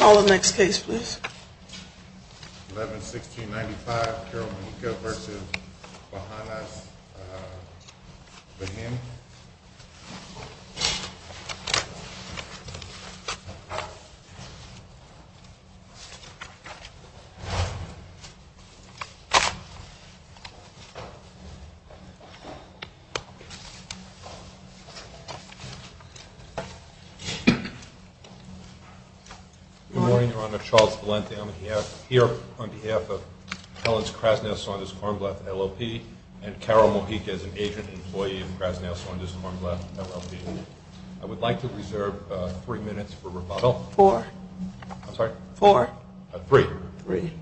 All the next case, please. 11 1695 versus him. Good morning, Your Honor. Charles Valente. I'm here on behalf of Helen's Krasnaya Saunders Kornblath LLP and Carol Mohica as an agent employee of Krasnaya Saunders Kornblath LLP. I would like to reserve three minutes for rebuttal. Four. I'm sorry. Four. Three. Three.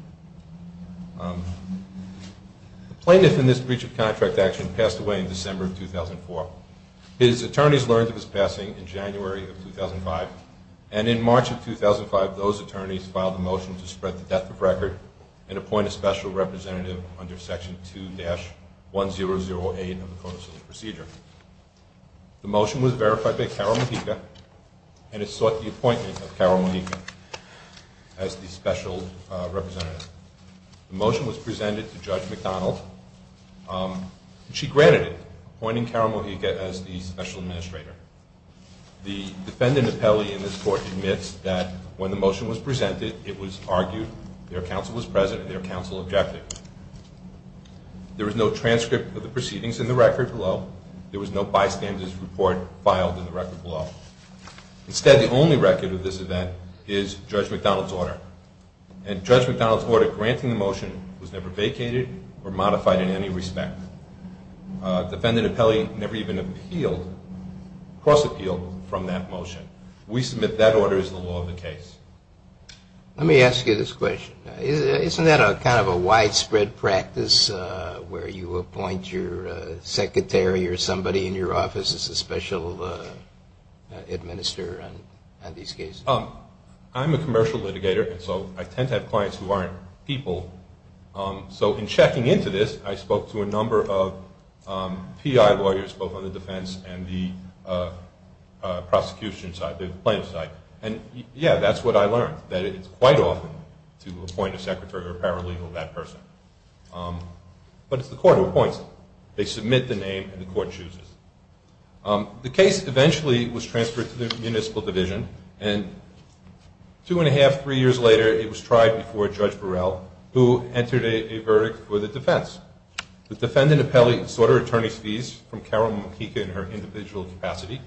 Plaintiff in this breach of contract action passed away in December of 2004. His attorneys learned of his passing in January of 2005 and in March of 2005, those attorneys filed a motion to spread the death of record and appoint a special representative under Section 2-1008 of the Code of Civil Procedure. The motion was verified by Carol Mohica and it sought the appointment of Carol Mohica as the special representative. The motion was presented to Judge McDonald. She granted it, appointing Carol Mohica as the special administrator. The defendant appellee in this court admits that when the motion was presented, it was argued their counsel was present and their counsel objected. There was no transcript of the proceedings in the record below. There was no bystanders report filed in the record below. Instead, the only record of this event is Judge McDonald's order. And Judge McDonald's order granting the motion was never vacated or modified in any respect. Defendant appellee never even appealed, cross-appealed from that motion. We submit that order is the law of the case. Let me ask you this question. Isn't that a kind of a widespread practice where you appoint your secretary or somebody in your office as a special administrator on these cases? I'm a commercial litigator. And so I tend to have clients who aren't people. So in checking into this, I spoke to a number of PI lawyers, both on the defense and the prosecution side, the plaintiff side. And yeah, that's what I learned, that it's quite often to appoint a secretary or paralegal to that person. But it's the court who appoints them. They submit the name and the court chooses. The case eventually was transferred to the municipal division and two and a half, three years later, it was tried before Judge Burrell, who entered a verdict for the defense. The defendant appellee sought her attorney's fees from Carol Makika in her individual capacity.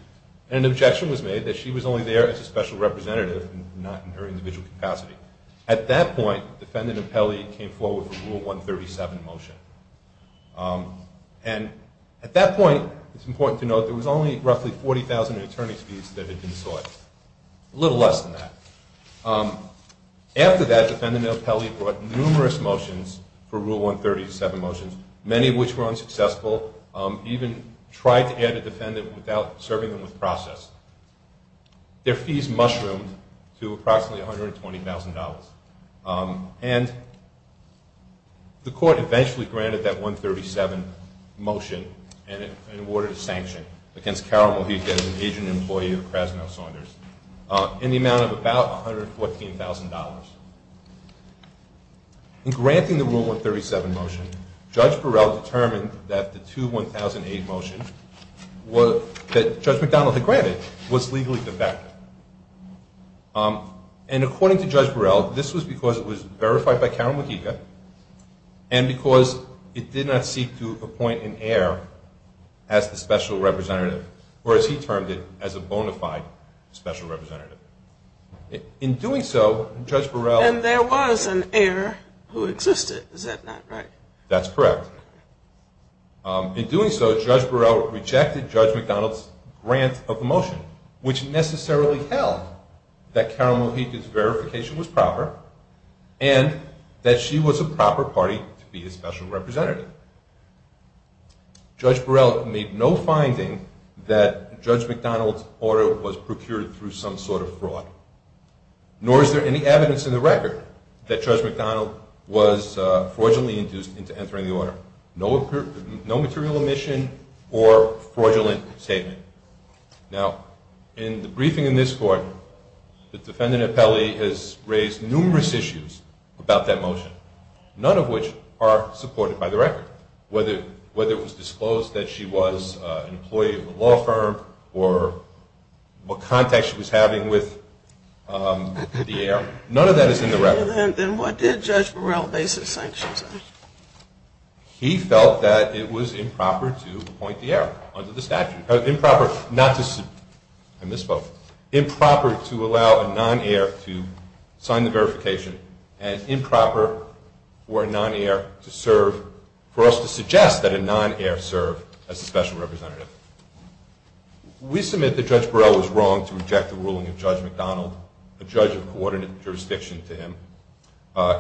And an objection was made that she was only there as a special representative and not in her individual capacity. At that point, defendant appellee came forward with a rule 137 motion. And at that point, it's important to note there was only roughly 40,000 attorney's fees that had been sought, a little less than that. After that, defendant appellee brought numerous motions for rule 137 motions, many of which were unsuccessful, even tried to add a defendant without serving them with process. Their fees mushroomed to approximately $120,000. And the court eventually granted that 137 motion and awarded a sanction against Carol Makika as an agent employee of Krasno Saunders in the amount of about $114,000. In granting the rule 137 motion, Judge Burrell determined that the 2-1000-8 motion that Judge McDonald had granted was legally defective. And according to Judge Burrell, this was because it was verified by Carol Makika and because it did not seek to appoint an heir as the special representative, or as he qualified, special representative. In doing so, Judge Burrell... And there was an heir who existed, is that not right? That's correct. In doing so, Judge Burrell rejected Judge McDonald's grant of the motion, which necessarily held that Carol Makika's verification was proper and that she was a proper party to be a special representative. In doing so, Judge Burrell made no finding that Judge McDonald's order was procured through some sort of fraud. Nor is there any evidence in the record that Judge McDonald was fraudulently induced into entering the order. No material omission or fraudulent statement. Now, in the briefing in this court, the defendant appellee has raised numerous issues about that motion, none of which are supported by the record. Whether it was disclosed that she was an employee of a law firm or what contact she was having with the heir, none of that is in the record. Then what did Judge Burrell base his sanctions on? He felt that it was improper to appoint the heir under the statute. Improper not to... I misspoke. Improper to allow a non-heir to sign the verification and improper for a non-heir to serve, for us to suggest that a non-heir serve as a special representative. We submit that Judge Burrell was wrong to reject the ruling of Judge McDonald, a judge of coordinate jurisdiction to him,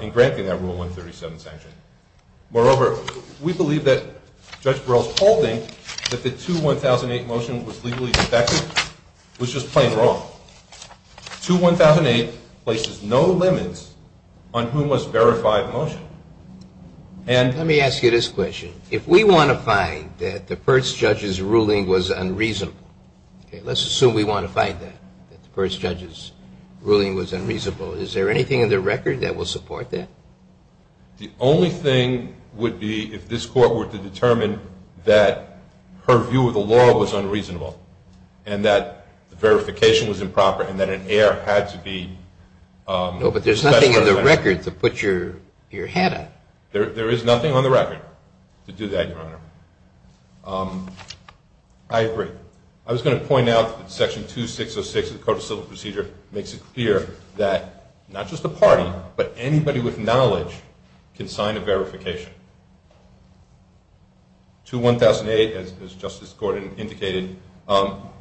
in granting that Rule 137 sanction. Moreover, we believe that Judge Burrell's holding that the 2-1008 motion was legally defective was just plain wrong. 2-1008 places no limits on who must verify the motion. Let me ask you this question. If we want to find that the first judge's ruling was unreasonable, let's assume we want to find that the first judge's ruling was unreasonable, is there anything in the record that will support that? The only thing would be if this court were to determine that her view of the law was unreasonable and that the verification was improper and that an heir had to be... No, but there's nothing in the record to put your head on. There is nothing on the record to do that, Your Honor. I agree. I was going to point out that Section 2606 of the Code of Civil Procedure makes it clear that not just a party, but anybody with knowledge can sign a verification. 2-1008, as Justice Gordon indicated,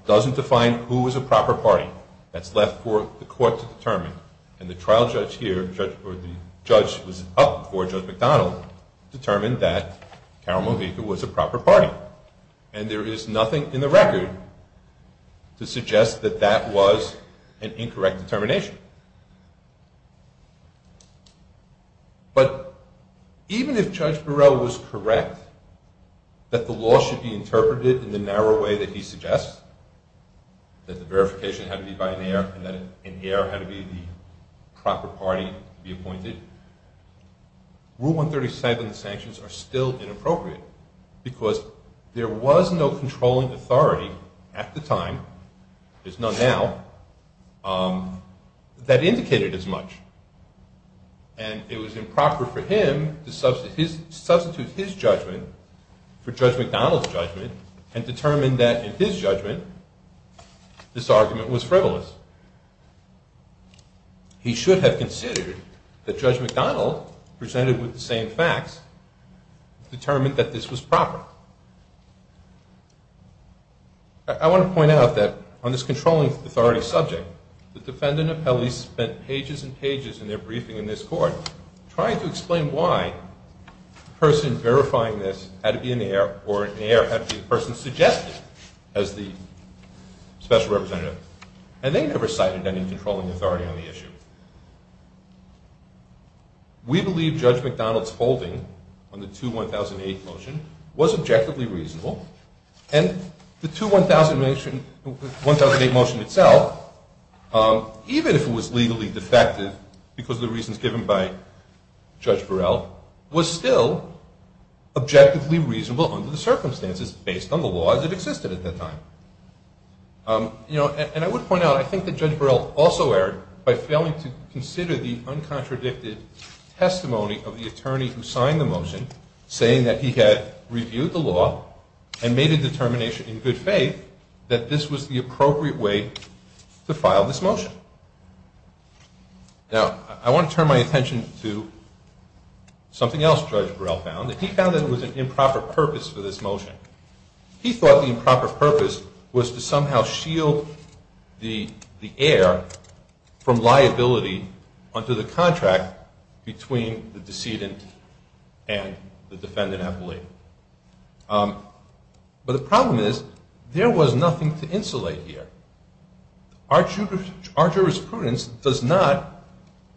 doesn't define who is a proper party. That's left for the court to determine. And the trial judge here, or the judge who was up before Judge McDonald, determined that Carol Movica was a proper party. And there is nothing in the record to suggest that that was an incorrect determination. But even if Judge Burrell was correct that the law should be interpreted in the narrow way that he suggests, that the verification had to be by an heir and that an heir had to be the proper party to be appointed, Rule 137 sanctions are still inappropriate because there was no controlling authority at the time, there's none now, that indicated as much. And it was improper for him to substitute his judgment for Judge McDonald's judgment and determine that in his judgment this argument was frivolous. He should have considered that Judge McDonald, presented with the same facts, determined that this was proper. I want to point out that on this controlling authority subject, the defendant appellees spent pages and pages in their briefing in this court trying to explain why the person verifying this had to be an heir or an heir had to be the person suggested as the special representative. And they never cited any controlling authority on the issue. We believe Judge McDonald's holding on the 2-1008 motion was objectively reasonable and the 2-1008 motion itself, even if it was legally defective because of the reasons given by Judge Burrell, was still objectively reasonable under the circumstances based on the laws that existed at that time. You know, and I would point out, I think that Judge Burrell also erred by failing to consider the uncontradicted testimony of the attorney who signed the motion, saying that he had reviewed the law and made a determination in good faith that this was the appropriate way to file this motion. Now, I want to turn my attention to something else Judge Burrell found, and he found that it was an improper purpose for this motion. He thought the improper purpose was to somehow shield the heir from liability under the contract between the decedent and the defendant appellee. But the problem is there was nothing to insulate here. Our jurisprudence does not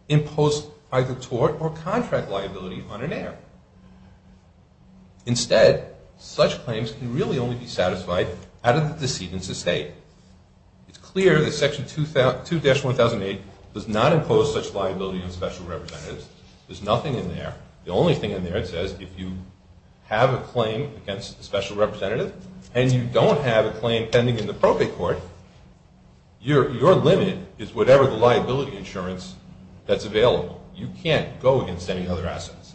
impose either tort or contract liability on an heir. Instead, such claims can really only be satisfied out of the decedent's estate. It's clear that Section 2-1008 does not impose such liability on special representatives. There's nothing in there. The only thing in there, it says, if you have a claim against a special representative and you don't have a claim pending in the propay court, your limit is whatever the liability insurance that's available. You can't go against any other assets.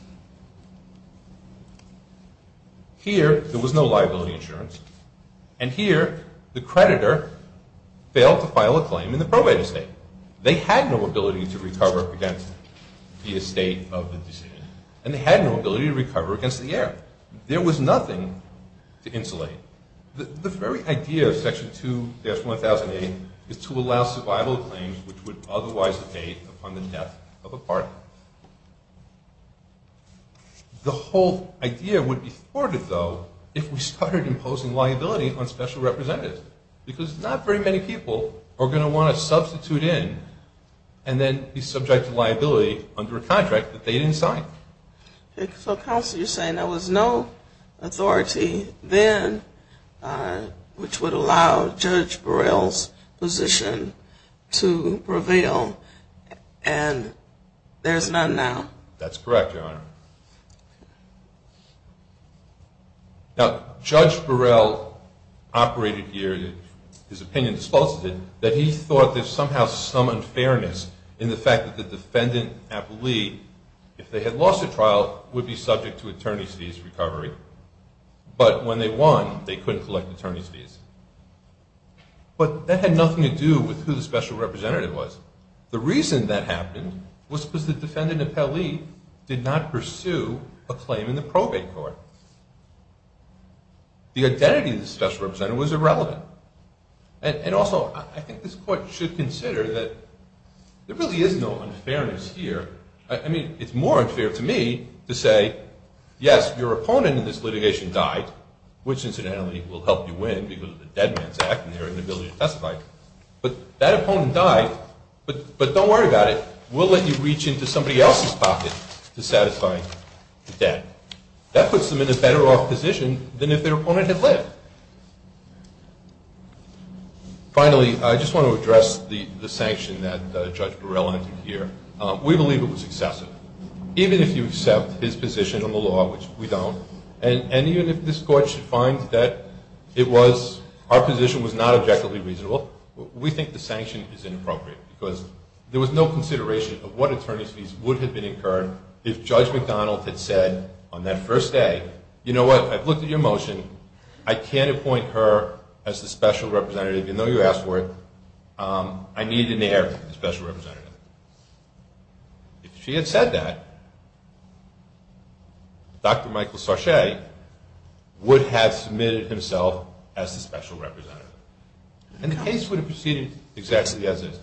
Here, there was no liability insurance, and here the creditor failed to file a claim in the probated estate. They had no ability to recover against the estate of the decedent, and they had no ability to recover against the heir. There was nothing to insulate. The very idea of Section 2-1008 is to allow survival claims which would otherwise abate upon the death of a partner. The whole idea would be thwarted, though, if we started imposing liability on special representatives, because not very many people are going to want to substitute in and then be subject to liability under a contract that they didn't sign. So counsel, you're saying there was no authority then which would allow Judge Burrell's position to prevail, and there's none now. That's correct, Your Honor. Now, Judge Burrell operated here, his opinion dispulsed it, that he thought there's somehow some unfairness in the fact that the defendant appellee, if they had lost a trial, would be subject to attorney's fees recovery, but when they won, they couldn't collect attorney's fees. But that had nothing to do with who the special representative was. The reason that happened was because the defendant appellee did not pursue a claim in the probate court. The identity of the special representative was irrelevant. And also, I think this court should consider that there really is no unfairness here. I mean, it's more unfair to me to say, yes, your opponent in this litigation died, which incidentally will help you win because of the Dead Man's Act and their inability to testify, but that opponent died, but don't worry about it. We'll let you reach into somebody else's pocket to satisfy the debt. That puts them in a better off position than if their opponent had lived. Finally, I just want to address the sanction that Judge Burrell entered here. We believe it was excessive, even if you accept his position on the law, which we don't, and even if this court should find that it was, our position was not objectively reasonable, we think the sanction is of what attorneys fees would have been incurred if Judge McDonald had said on that first day, you know what, I've looked at your motion. I can't appoint her as the special representative, even though you asked for it. I need an heir to the special representative. If she had said that, Dr. Michael Sarche would have submitted himself as the special representative and the case would have proceeded exactly as is.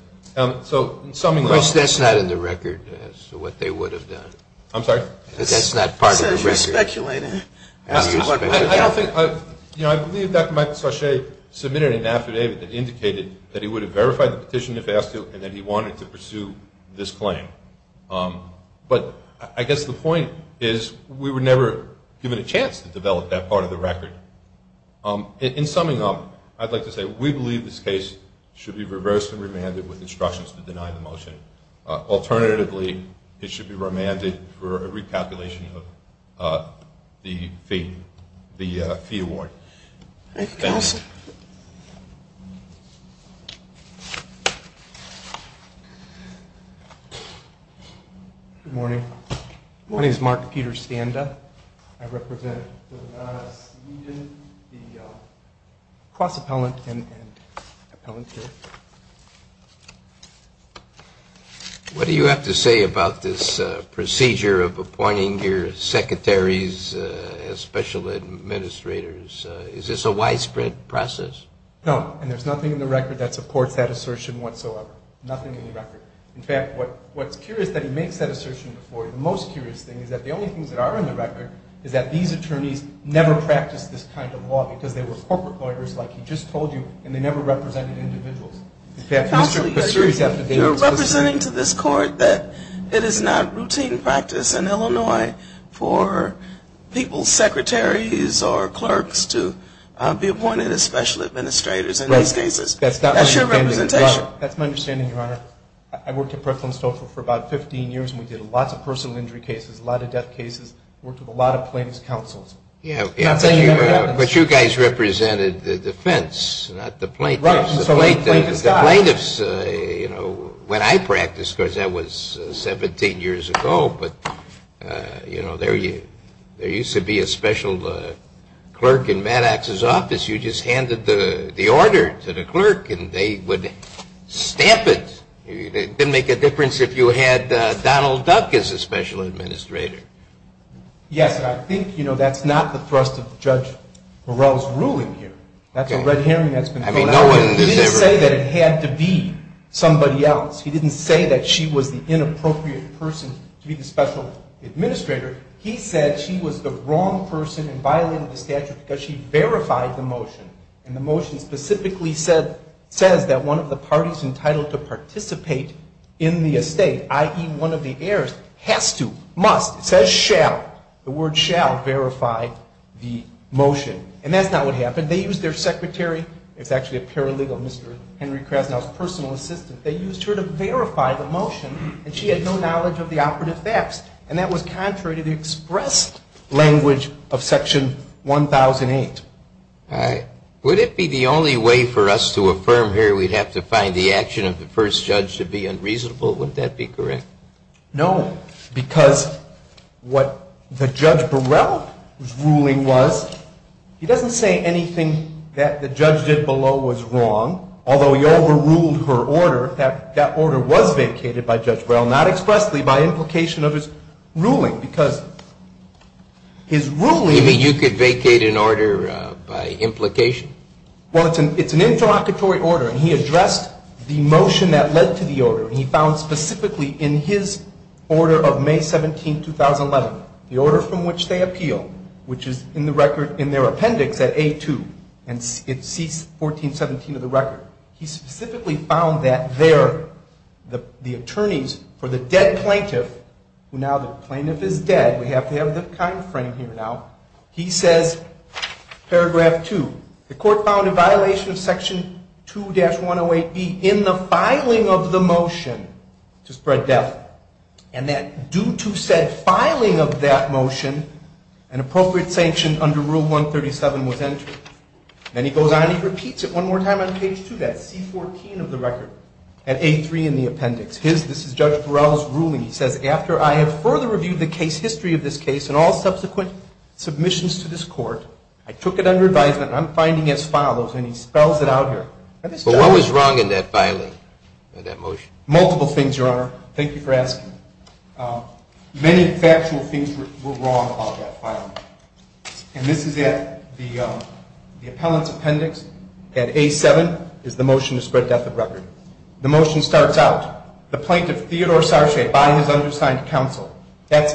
So in summing up, that's not in the record as to what they would have done. I'm sorry. That's not part of the record. You're speculating. You know, I believe Dr. Michael Sarche submitted an affidavit that indicated that he would have verified the petition if asked to and that he wanted to pursue this claim. But I guess the point is we were never given a chance to develop that part of the record. In summing up, I'd like to say we believe this case should be reversed and remanded with instructions to deny the motion. Alternatively, it should be remanded for a recalculation of the fee award. Good morning. My name is Mark Peter Standa. I represent the Nevada's Legion, the Cross Appellant and Appellant here. What do you have to say about this procedure of appointing your secretaries as special administrators? Is this a widespread process? No, and there's nothing in the record that supports that assertion whatsoever. Nothing in the record. In fact, what's curious is that he makes that assertion before. The most curious thing is that the only things that are in the record is that these attorneys never practiced this kind of law because they were corporate lawyers like he just told you and they never represented individuals. You're representing to this court that it is not routine practice in Illinois for people's secretaries or clerks to be appointed as special administrators in these cases. That's not your representation. That's my understanding, Your Honor. I worked at Preflin Social for about 15 years and we did lots of personal injury cases, a lot of death cases, worked with a lot of plaintiff's counsels. Yeah, but you guys represented the defense, not the plaintiffs. The plaintiffs, you know, when I practiced, because that was 17 years ago, but, you know, there used to be a special clerk in Maddox's office. You just handed the order to the clerk and they would stamp it. It didn't make a difference if you had Donald Duck as a special administrator. Yes, but I think, you know, that's not the thrust of Judge Morell's ruling here. That's a red herring that's been thrown out. He didn't say that it had to be somebody else. He didn't say that she was the inappropriate person to be the special administrator. He said she was the wrong person and violated the statute because she verified the motion. And the motion specifically says that one of the parties entitled to participate in the estate, i.e., one of the parties, says shall, the word shall verify the motion. And that's not what happened. They used their secretary. It's actually a paralegal, Mr. Henry Krasnow's personal assistant. They used her to verify the motion and she had no knowledge of the operative facts. And that was contrary to the expressed language of Section 1008. All right. Would it be the only way for us to affirm here we'd have to find the action of the first judge to be unreasonable? Would that be correct? No, because what the Judge Burrell's ruling was, he doesn't say anything that the judge did below was wrong, although he overruled her order. That order was vacated by Judge Burrell, not expressly by implication of his ruling, because his ruling... You mean you could vacate an order by implication? Well, it's an interlocutory order. He addressed the motion that led to the order. He found specifically in his order of May 17, 2011, the order from which they appeal, which is in the record in their appendix at A2, and it's C1417 of the record, he specifically found that there, the attorneys for the dead plaintiff, who now the plaintiff is dead, we have to have the time frame here now, he says, paragraph 2, the court found a violation of Section 2-108B in the filing of the motion to spread death, and that due to said filing of that motion, an appropriate sanction under Rule 137 was entered. Then he goes on, he repeats it one more time on page 2, that's C14 of the record at A3 in the appendix. This is Judge Burrell's ruling. He says, after I have further reviewed the case history of this case and all subsequent submissions to this court, I took it under advisement, I'm finding as follows, and he spells it out here. But what was wrong in that filing of that motion? Multiple things, Your Honor. Thank you for asking. Many factual things were wrong about that filing, and this is at the appellant's appendix at A7 is the motion to spread death of record. The motion starts out, the plaintiff, Theodore Sarche, by his undersigned counsel. That's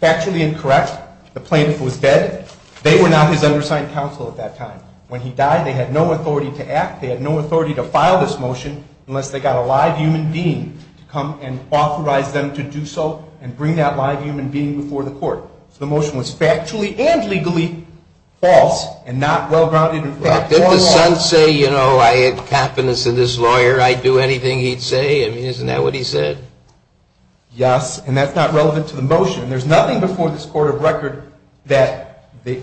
factually incorrect. The plaintiff was dead. They were now his undersigned counsel at that time. When he died, they had no authority to act. They had no authority to file this motion unless they got a live human being to come and authorize them to do so and bring that live human being before the court. So the motion was factually and legally false and not well-grounded. Did the son say, you know, I had confidence in this lawyer, I'd do anything he'd say? I mean, isn't that what he said? Yes, and that's not relevant to the motion. There's nothing before this court of record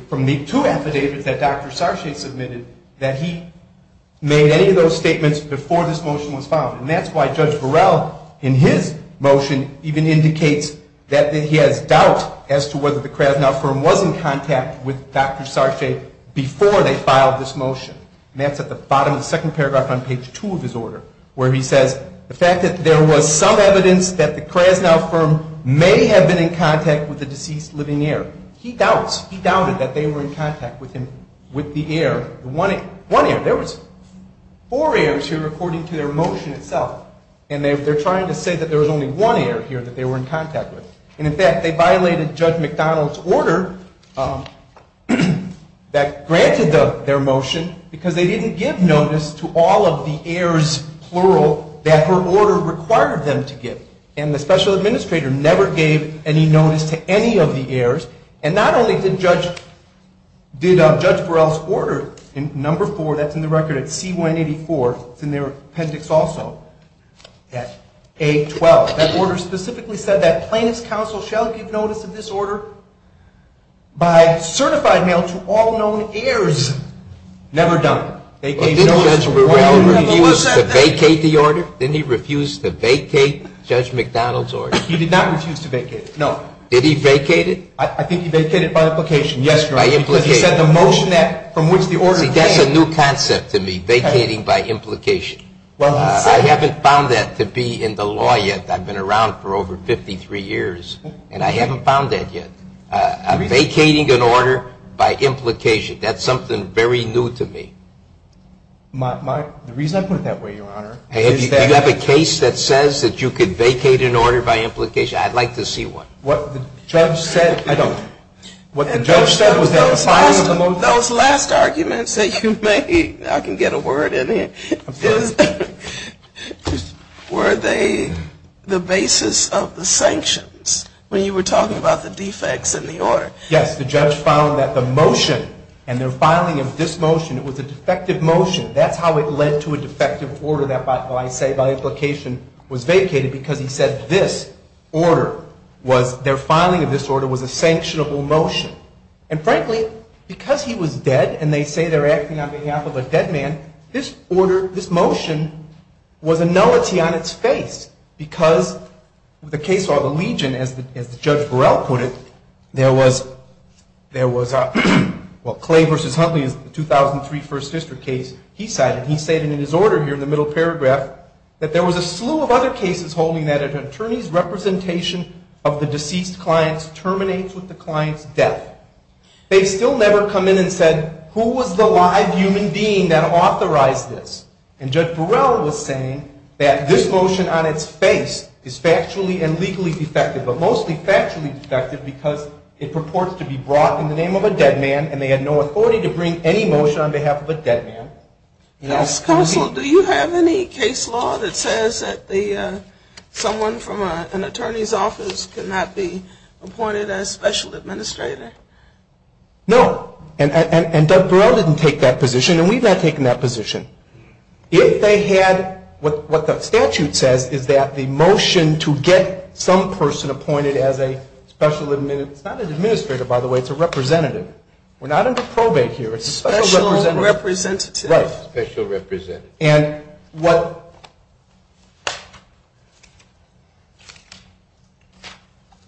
from the two affidavits that Dr. Sarche submitted that he made any of those statements before this motion was filed. And that's why Judge Burrell, in his motion, even indicates that he has doubt as to whether the Krasnow firm was in contact with Dr. Sarche before they filed this motion. And that's at the bottom of the second paragraph on page two of his order, where he says the fact that there was some evidence that the Krasnow firm may have been in contact with the deceased living heir. He doubts, he doubted that they were in contact with him, with the heir. One heir, there was four heirs here according to their motion itself. And they're trying to say that there was only one heir here that they were in contact with. And in fact, they violated Judge McDonald's order that granted their motion because they didn't give notice to all of the heirs, plural, that her order required them to give. And the special administrator never gave any notice to any of the heirs. And not only did Judge Burrell's order, in number four, that's in the record at C184, it's in their appendix also, at A12, that order specifically said that plaintiff's counsel shall give notice of this order by certified mail to all known heirs. Never done. They gave notice. Did Judge Burrell refuse to vacate the order? Did he refuse to vacate Judge McDonald's order? He did not refuse to vacate it, no. Did he vacate it? I think he vacated it by implication. Yes, Your Honor, because he said the motion that from which the order came. See, that's a new concept to me, vacating by implication. I haven't found that to be in the law yet. I've been around for over 53 years. And I haven't found that yet. Vacating an order by implication, that's something very new to me. The reason I put it that way, Your Honor, is that you have a case that says that you could vacate an order by implication. I'd like to see one. What the judge said was that the filing of the motion. Those last arguments that you made, I can get a word in here, were they the basis of the sanctions when you were talking about the defects in the order? Yes, the judge found that the motion and the filing of this motion, it was a defective motion. That's how it led to a defective order that I say by implication was vacated, because he said this order was, their filing of this order was a sanctionable motion. And frankly, because he was dead, and they say they're acting on behalf of a dead man, this order, this motion, was a nullity on its face. Because the case of the Legion, as Judge Burrell put it, there was, well, Clay versus Huntley is the 2003 First District case he cited. He stated in his order here in the middle paragraph that there was a slew of other cases holding that an attorney's representation of the deceased client terminates with the client's death. They still never come in and said, who was the live human being that authorized this? And Judge Burrell was saying that this motion on its face is factually and legally defective, but mostly factually defective because it purports to be brought in the name of a dead man, and they had no authority to bring any motion on behalf of a dead man. Counsel, do you have any case law that says that someone from an attorney's office cannot be appointed as special administrator? No. And Judge Burrell didn't take that position, and we've not taken that position. If they had what the statute says is that the motion to get some person appointed as a special administrator, by the way, it's a representative. We're not under probate here. Special representative. Right. Special representative. And what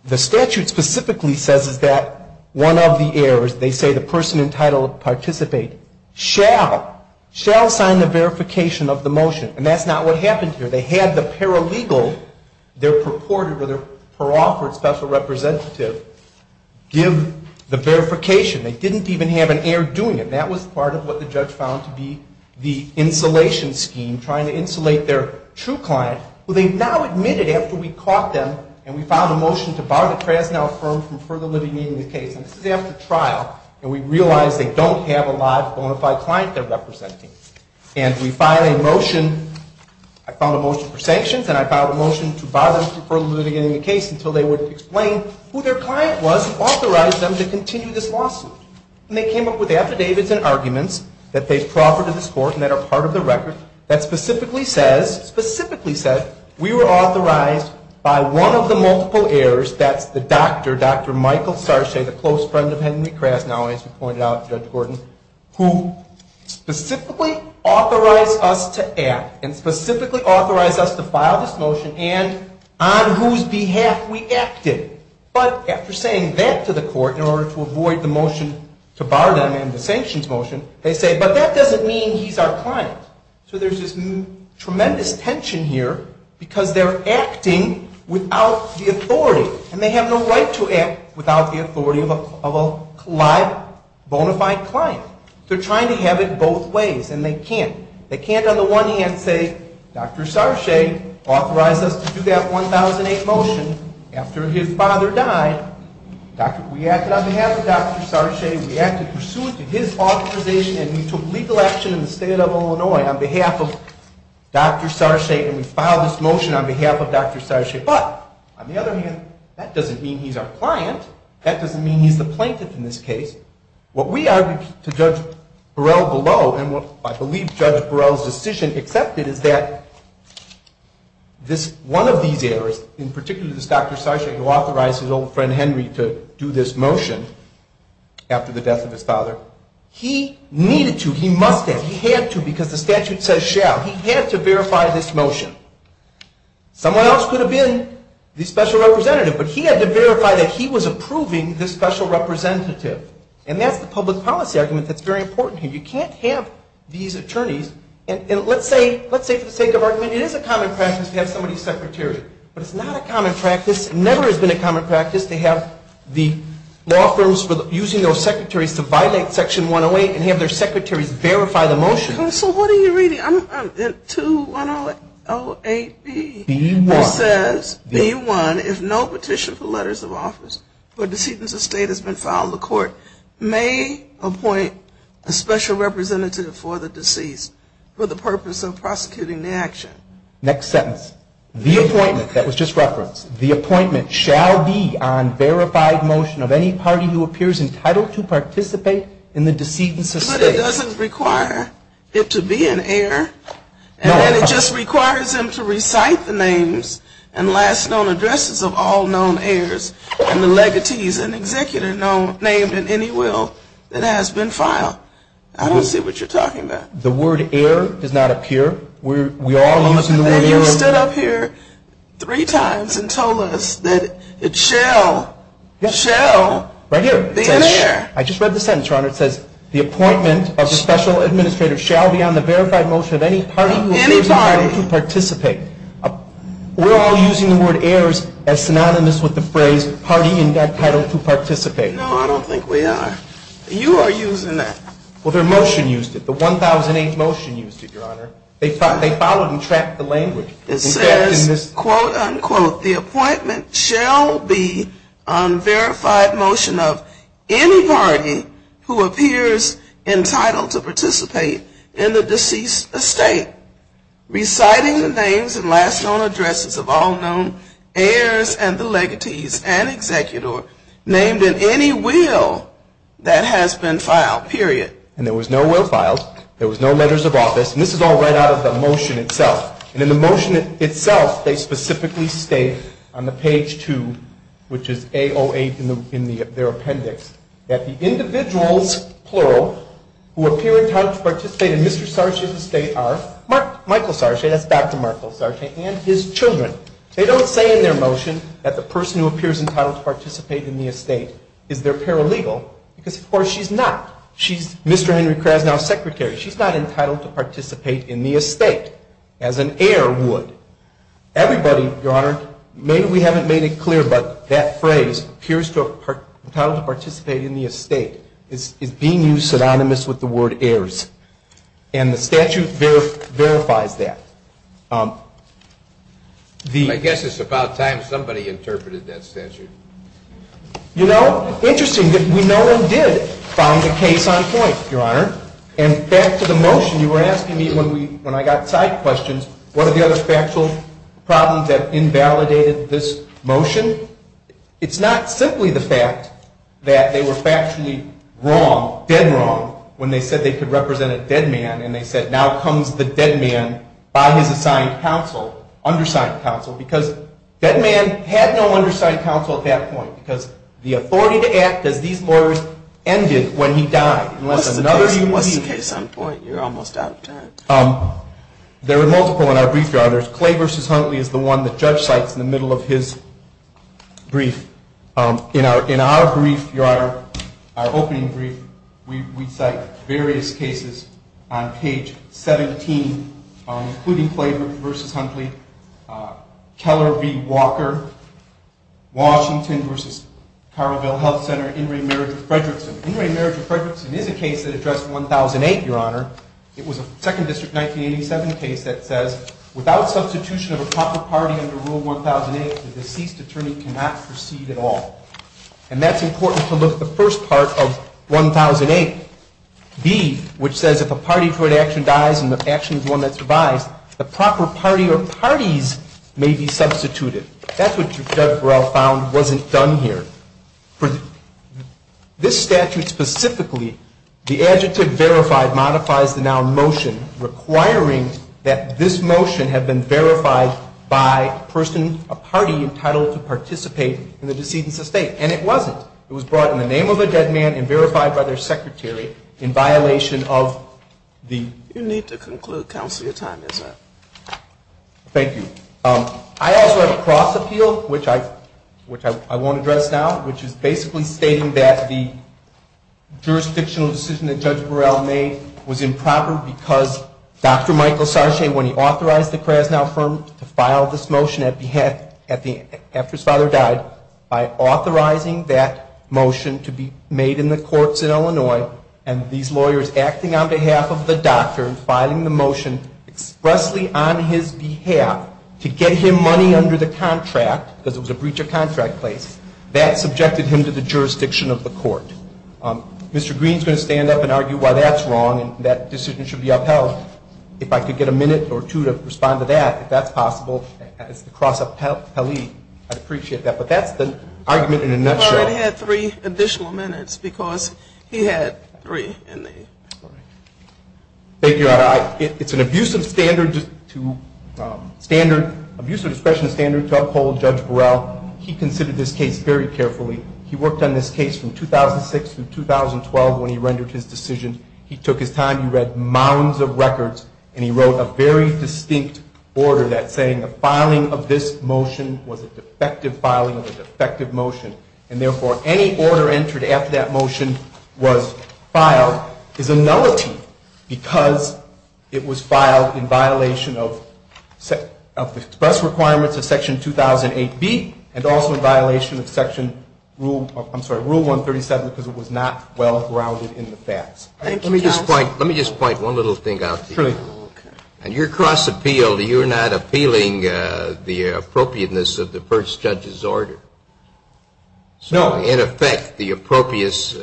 the statute specifically says is that one of the heirs, they say the person entitled to participate, shall sign the verification of the motion. And that's not what happened here. They had the paralegal, their purported or their per-offered special representative, give the verification. They didn't even have an heir doing it. That was part of what the judge found to be the insulation scheme, trying to insulate their true client, who they now admitted after we caught them and we filed a motion to bar the Krasnow firm from further living in the case. And this is after trial, and we realized they don't have a live, bona fide client they're representing. And we filed a motion. I filed a motion for sanctions, and I filed a motion to bar them from further living in the case until they would explain who their client was and authorize them to continue this lawsuit. And they came up with affidavits and arguments that they've proffered to this court and that are part of the record that specifically says, specifically said, we were authorized by one of the multiple heirs, that's the doctor, Dr. Michael Sarche, the close friend of Henry Krasnow, as you pointed out, Judge Gordon, who specifically authorized us to act and specifically authorized us to file this motion, and on whose behalf we acted. But after saying that to the court in order to avoid the motion to bar them and the sanctions motion, they say, but that doesn't mean he's our client. So there's this tremendous tension here because they're acting without the authority. And they have no right to act without the authority of a live, bona fide client. They're trying to have it both ways, and they can't. They can't on the one hand say, Dr. Sarche authorized us to do that 1008 motion after his father died. We acted on behalf of Dr. Sarche. We acted pursuant to his authorization, and we took legal action in the state of Illinois on behalf of Dr. Sarche, and we filed this motion on behalf of Dr. Sarche. But on the other hand, that doesn't mean he's our client. That doesn't mean he's the plaintiff in this case. What we argued to Judge Burrell below, and what I believe Judge Burrell's decision accepted is that this one of these errors, in particular this Dr. Sarche who authorized his old friend Henry to do this motion after the death of his father, he needed to, he must have, he had to because the statute says shall. He had to verify this motion. Someone else could have been the special representative, but he had to verify that he was approving this special representative. And that's the public policy argument that's very important here. You can't have these attorneys. And let's say for the sake of argument, it is a common practice to have somebody's secretary. But it's not a common practice, never has been a common practice to have the law firms using those secretaries to violate section 108 and have their secretaries verify the motion. So what are you reading? 2108B says, B1, if no petition for letters of office for decedents of state has been filed, the court may appoint a special representative for the deceased for the purpose of prosecuting the action. Next sentence. The appointment, that was just referenced, the appointment shall be on verified motion of any party who appears entitled to participate in the decedents of state. But it doesn't require it to be an heir. And then it just requires them to recite the names and last known addresses of all known heirs and the legatees and executor named in any will that has been filed. I don't see what you're talking about. The word heir does not appear. We're all using the word heir. You stood up here three times and told us that it shall be an heir. I just read the sentence, Your Honor. It says, the appointment of the special administrator shall be on the verified motion of any party who appears entitled to participate. We're all using the word heirs as synonymous with the phrase party entitled to participate. No, I don't think we are. You are using that. Well, their motion used it. The 1008 motion used it, Your Honor. They followed and tracked the language. It says, quote unquote, the appointment shall be on verified motion of any party who appears entitled to participate in the deceased estate, reciting the names and last known addresses of all known heirs and the legatees and executor named in any will that has been filed, period. And there was no will filed. There was no letters of office. And this is all right out of the motion itself. And in the motion itself, they specifically state on the page two, which is A08 in their appendix, that the individuals, plural, who appear entitled to participate in Mr. Sarche's estate are Michael Sarche, that's Dr. Michael Sarche, and his children. They don't say in their motion that the person who appears entitled to participate in the estate is their paralegal because, of course, she's not. She's Mr. Henry Krasnow's secretary. She's not entitled to participate in the estate, as an heir would. Everybody, Your Honor, maybe we haven't made it clear, but that phrase, appears entitled to participate in the estate, is being used synonymous with the word heirs. And the statute verifies that. I guess it's about time somebody interpreted that statute. You know, interesting that we know and did found a case on point, Your Honor. And back to the motion, you were asking me when I got side questions, what are the other factual problems that invalidated this motion? It's not simply the fact that they were factually wrong, dead wrong, when they said they could represent a dead man. And they said, now comes the dead man by his assigned counsel, undersigned counsel. Because dead man had no undersigned counsel at that point. Because the authority to act as these lawyers ended when he died. Unless another he believed. What's the case on point? You're almost out of time. There are multiple in our brief, Your Honor. Clay versus Huntley is the one the judge cites in the middle of his brief. In our brief, Your Honor, our opening brief, we cite various cases on page 17, including Clay versus Huntley, Keller v. Walker, Washington versus Carleville Health Center, In re Marriage of Fredrickson. In re Marriage of Fredrickson is a case that addressed 1,008, Your Honor. It was a Second District 1987 case that says, without substitution of a proper party under Rule 1,008, the deceased attorney cannot proceed at all. And that's important to look at the first part of 1,008. B, which says, if a party for an action dies and the action is one that survives, the proper party or parties may be substituted. That's what Judge Burrell found wasn't done here. This statute specifically, the adjective verified modifies the noun motion, requiring that this motion had been verified by a person, a party, entitled to participate in the decedent's estate. And it wasn't. It was brought in the name of a dead man and verified by their secretary in violation of the. You need to conclude, counsel, your time is up. Thank you. I also have a cross appeal, which I won't address now, which is basically stating that the jurisdictional decision that Judge Burrell made was improper because Dr. Michael Sarche, when he authorized the Krasnow firm to file this motion after his father died, by authorizing that motion to be made in the courts in Illinois, and these lawyers acting on behalf of the doctor and filing the motion expressly on his behalf to get him money under the contract, because it was a breach of contract place, that subjected him to the jurisdiction of the court. Mr. Green's going to stand up and argue why that's wrong and that decision should be upheld. If I could get a minute or two to respond to that, if that's possible, it's the cross of Pelley. I'd appreciate that. But that's the argument in a nutshell. You've already had three additional minutes because he had three in the story. Thank you, Your Honor. It's an abuse of discretionary standard to uphold Judge Burrell. He considered this case very carefully. He worked on this case from 2006 through 2012 when he rendered his decision. He took his time. He read mounds of records, and he made a very distinct order that saying the filing of this motion was a defective filing of a defective motion. And therefore, any order entered after that motion was filed is a nullity because it was filed in violation of express requirements of Section 2008B and also in violation of Rule 137 because it was not well-grounded in the facts. Thank you, Judge. Let me just point one little thing out to you. In your cross-appeal, you're not appealing the appropriateness of the first judge's order. So in effect, the appropriateness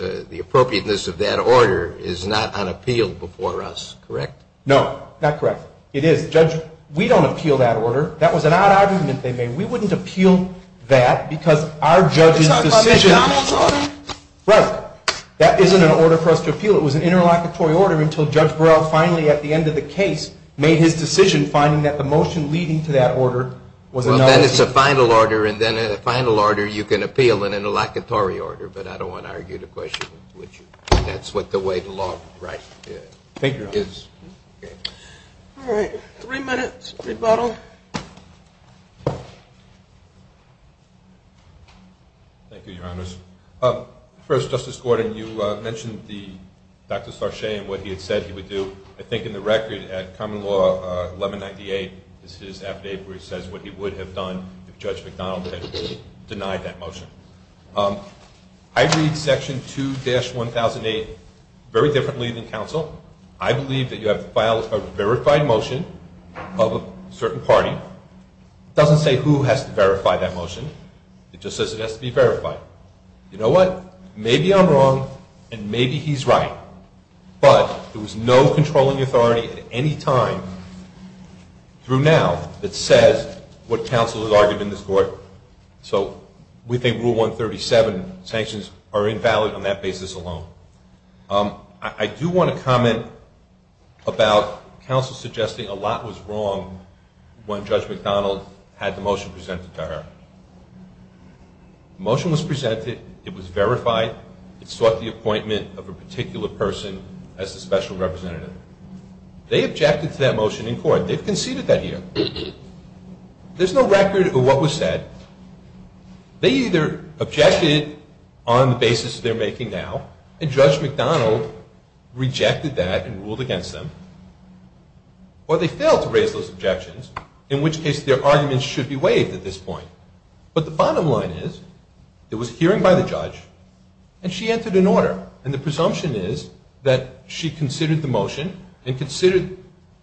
of that order is not unappealed before us, correct? No, not correct. It is, Judge. We don't appeal that order. That was an odd argument they made. We wouldn't appeal that because our judge's decision. It's not a Donald's order? Right. That isn't an order for us to appeal. It was an interlocutory order until Judge Burrell finally at the end of the case made his decision, finding that the motion leading to that order was a nullity. Well, then it's a final order. And then in a final order, you can appeal in an interlocutory order. But I don't want to argue the question with you. That's what the way the law is. All right, three minutes, rebuttal. Thank you, Your Honors. First, Justice Gordon, you mentioned Dr. Sarche and what he had said he would do. I think in the record at Common Law 1198 is his affidavit where he says what he would have done if Judge McDonald had denied that motion. I read Section 2-1008 very differently than counsel. I believe that you have to file a verified motion of a certain party. It doesn't say who has to verify that motion. It just says it has to be verified. You know what? Maybe I'm wrong, and maybe he's right. But there was no controlling authority at any time through now that says what counsel has argued in this court. So we think Rule 137 sanctions are invalid on that basis alone. I do want to comment about counsel suggesting a lot was wrong when Judge McDonald had the motion presented to her. Motion was presented. It was verified. It sought the appointment of a particular person as the special representative. They objected to that motion in court. They've conceded that here. There's no record of what was said. They either objected on the basis they're making now, and Judge McDonald rejected that and ruled against them, or they failed to raise those objections, in which case their arguments should be waived at this point. But the bottom line is there was a hearing by the judge, and she entered an order. And the presumption is that she considered the motion and considered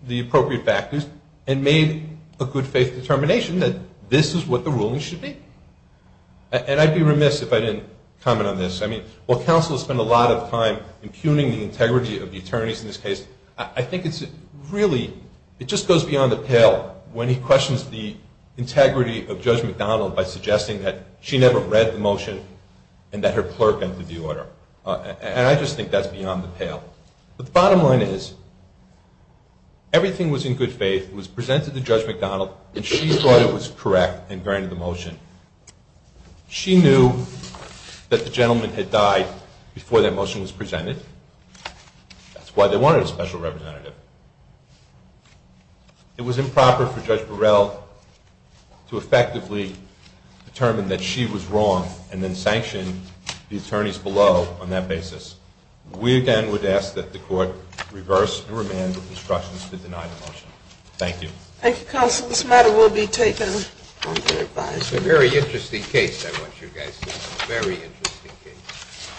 the appropriate factors and made a good faith determination that this is what the ruling should be. And I'd be remiss if I didn't comment on this. I mean, while counsel has spent a lot of time impugning the integrity of the attorneys in this case, I think it's really, it just goes beyond the pale when he questions the integrity of Judge McDonald by suggesting that she never read the motion and that her clerk entered the order. And I just think that's beyond the pale. But the bottom line is everything was in good faith. It was presented to Judge McDonald, and she thought it was correct and granted the motion. She knew that the gentleman had died before that motion was presented. That's why they wanted a special representative. It was improper for Judge Burrell to effectively determine that she was wrong and then sanction the attorneys below on that basis. We again would ask that the court reverse and remand the instructions to deny the motion. Thank you. Thank you, counsel. This matter will be taken on their advice. It's a very interesting case, I want you guys to know. Very interesting case.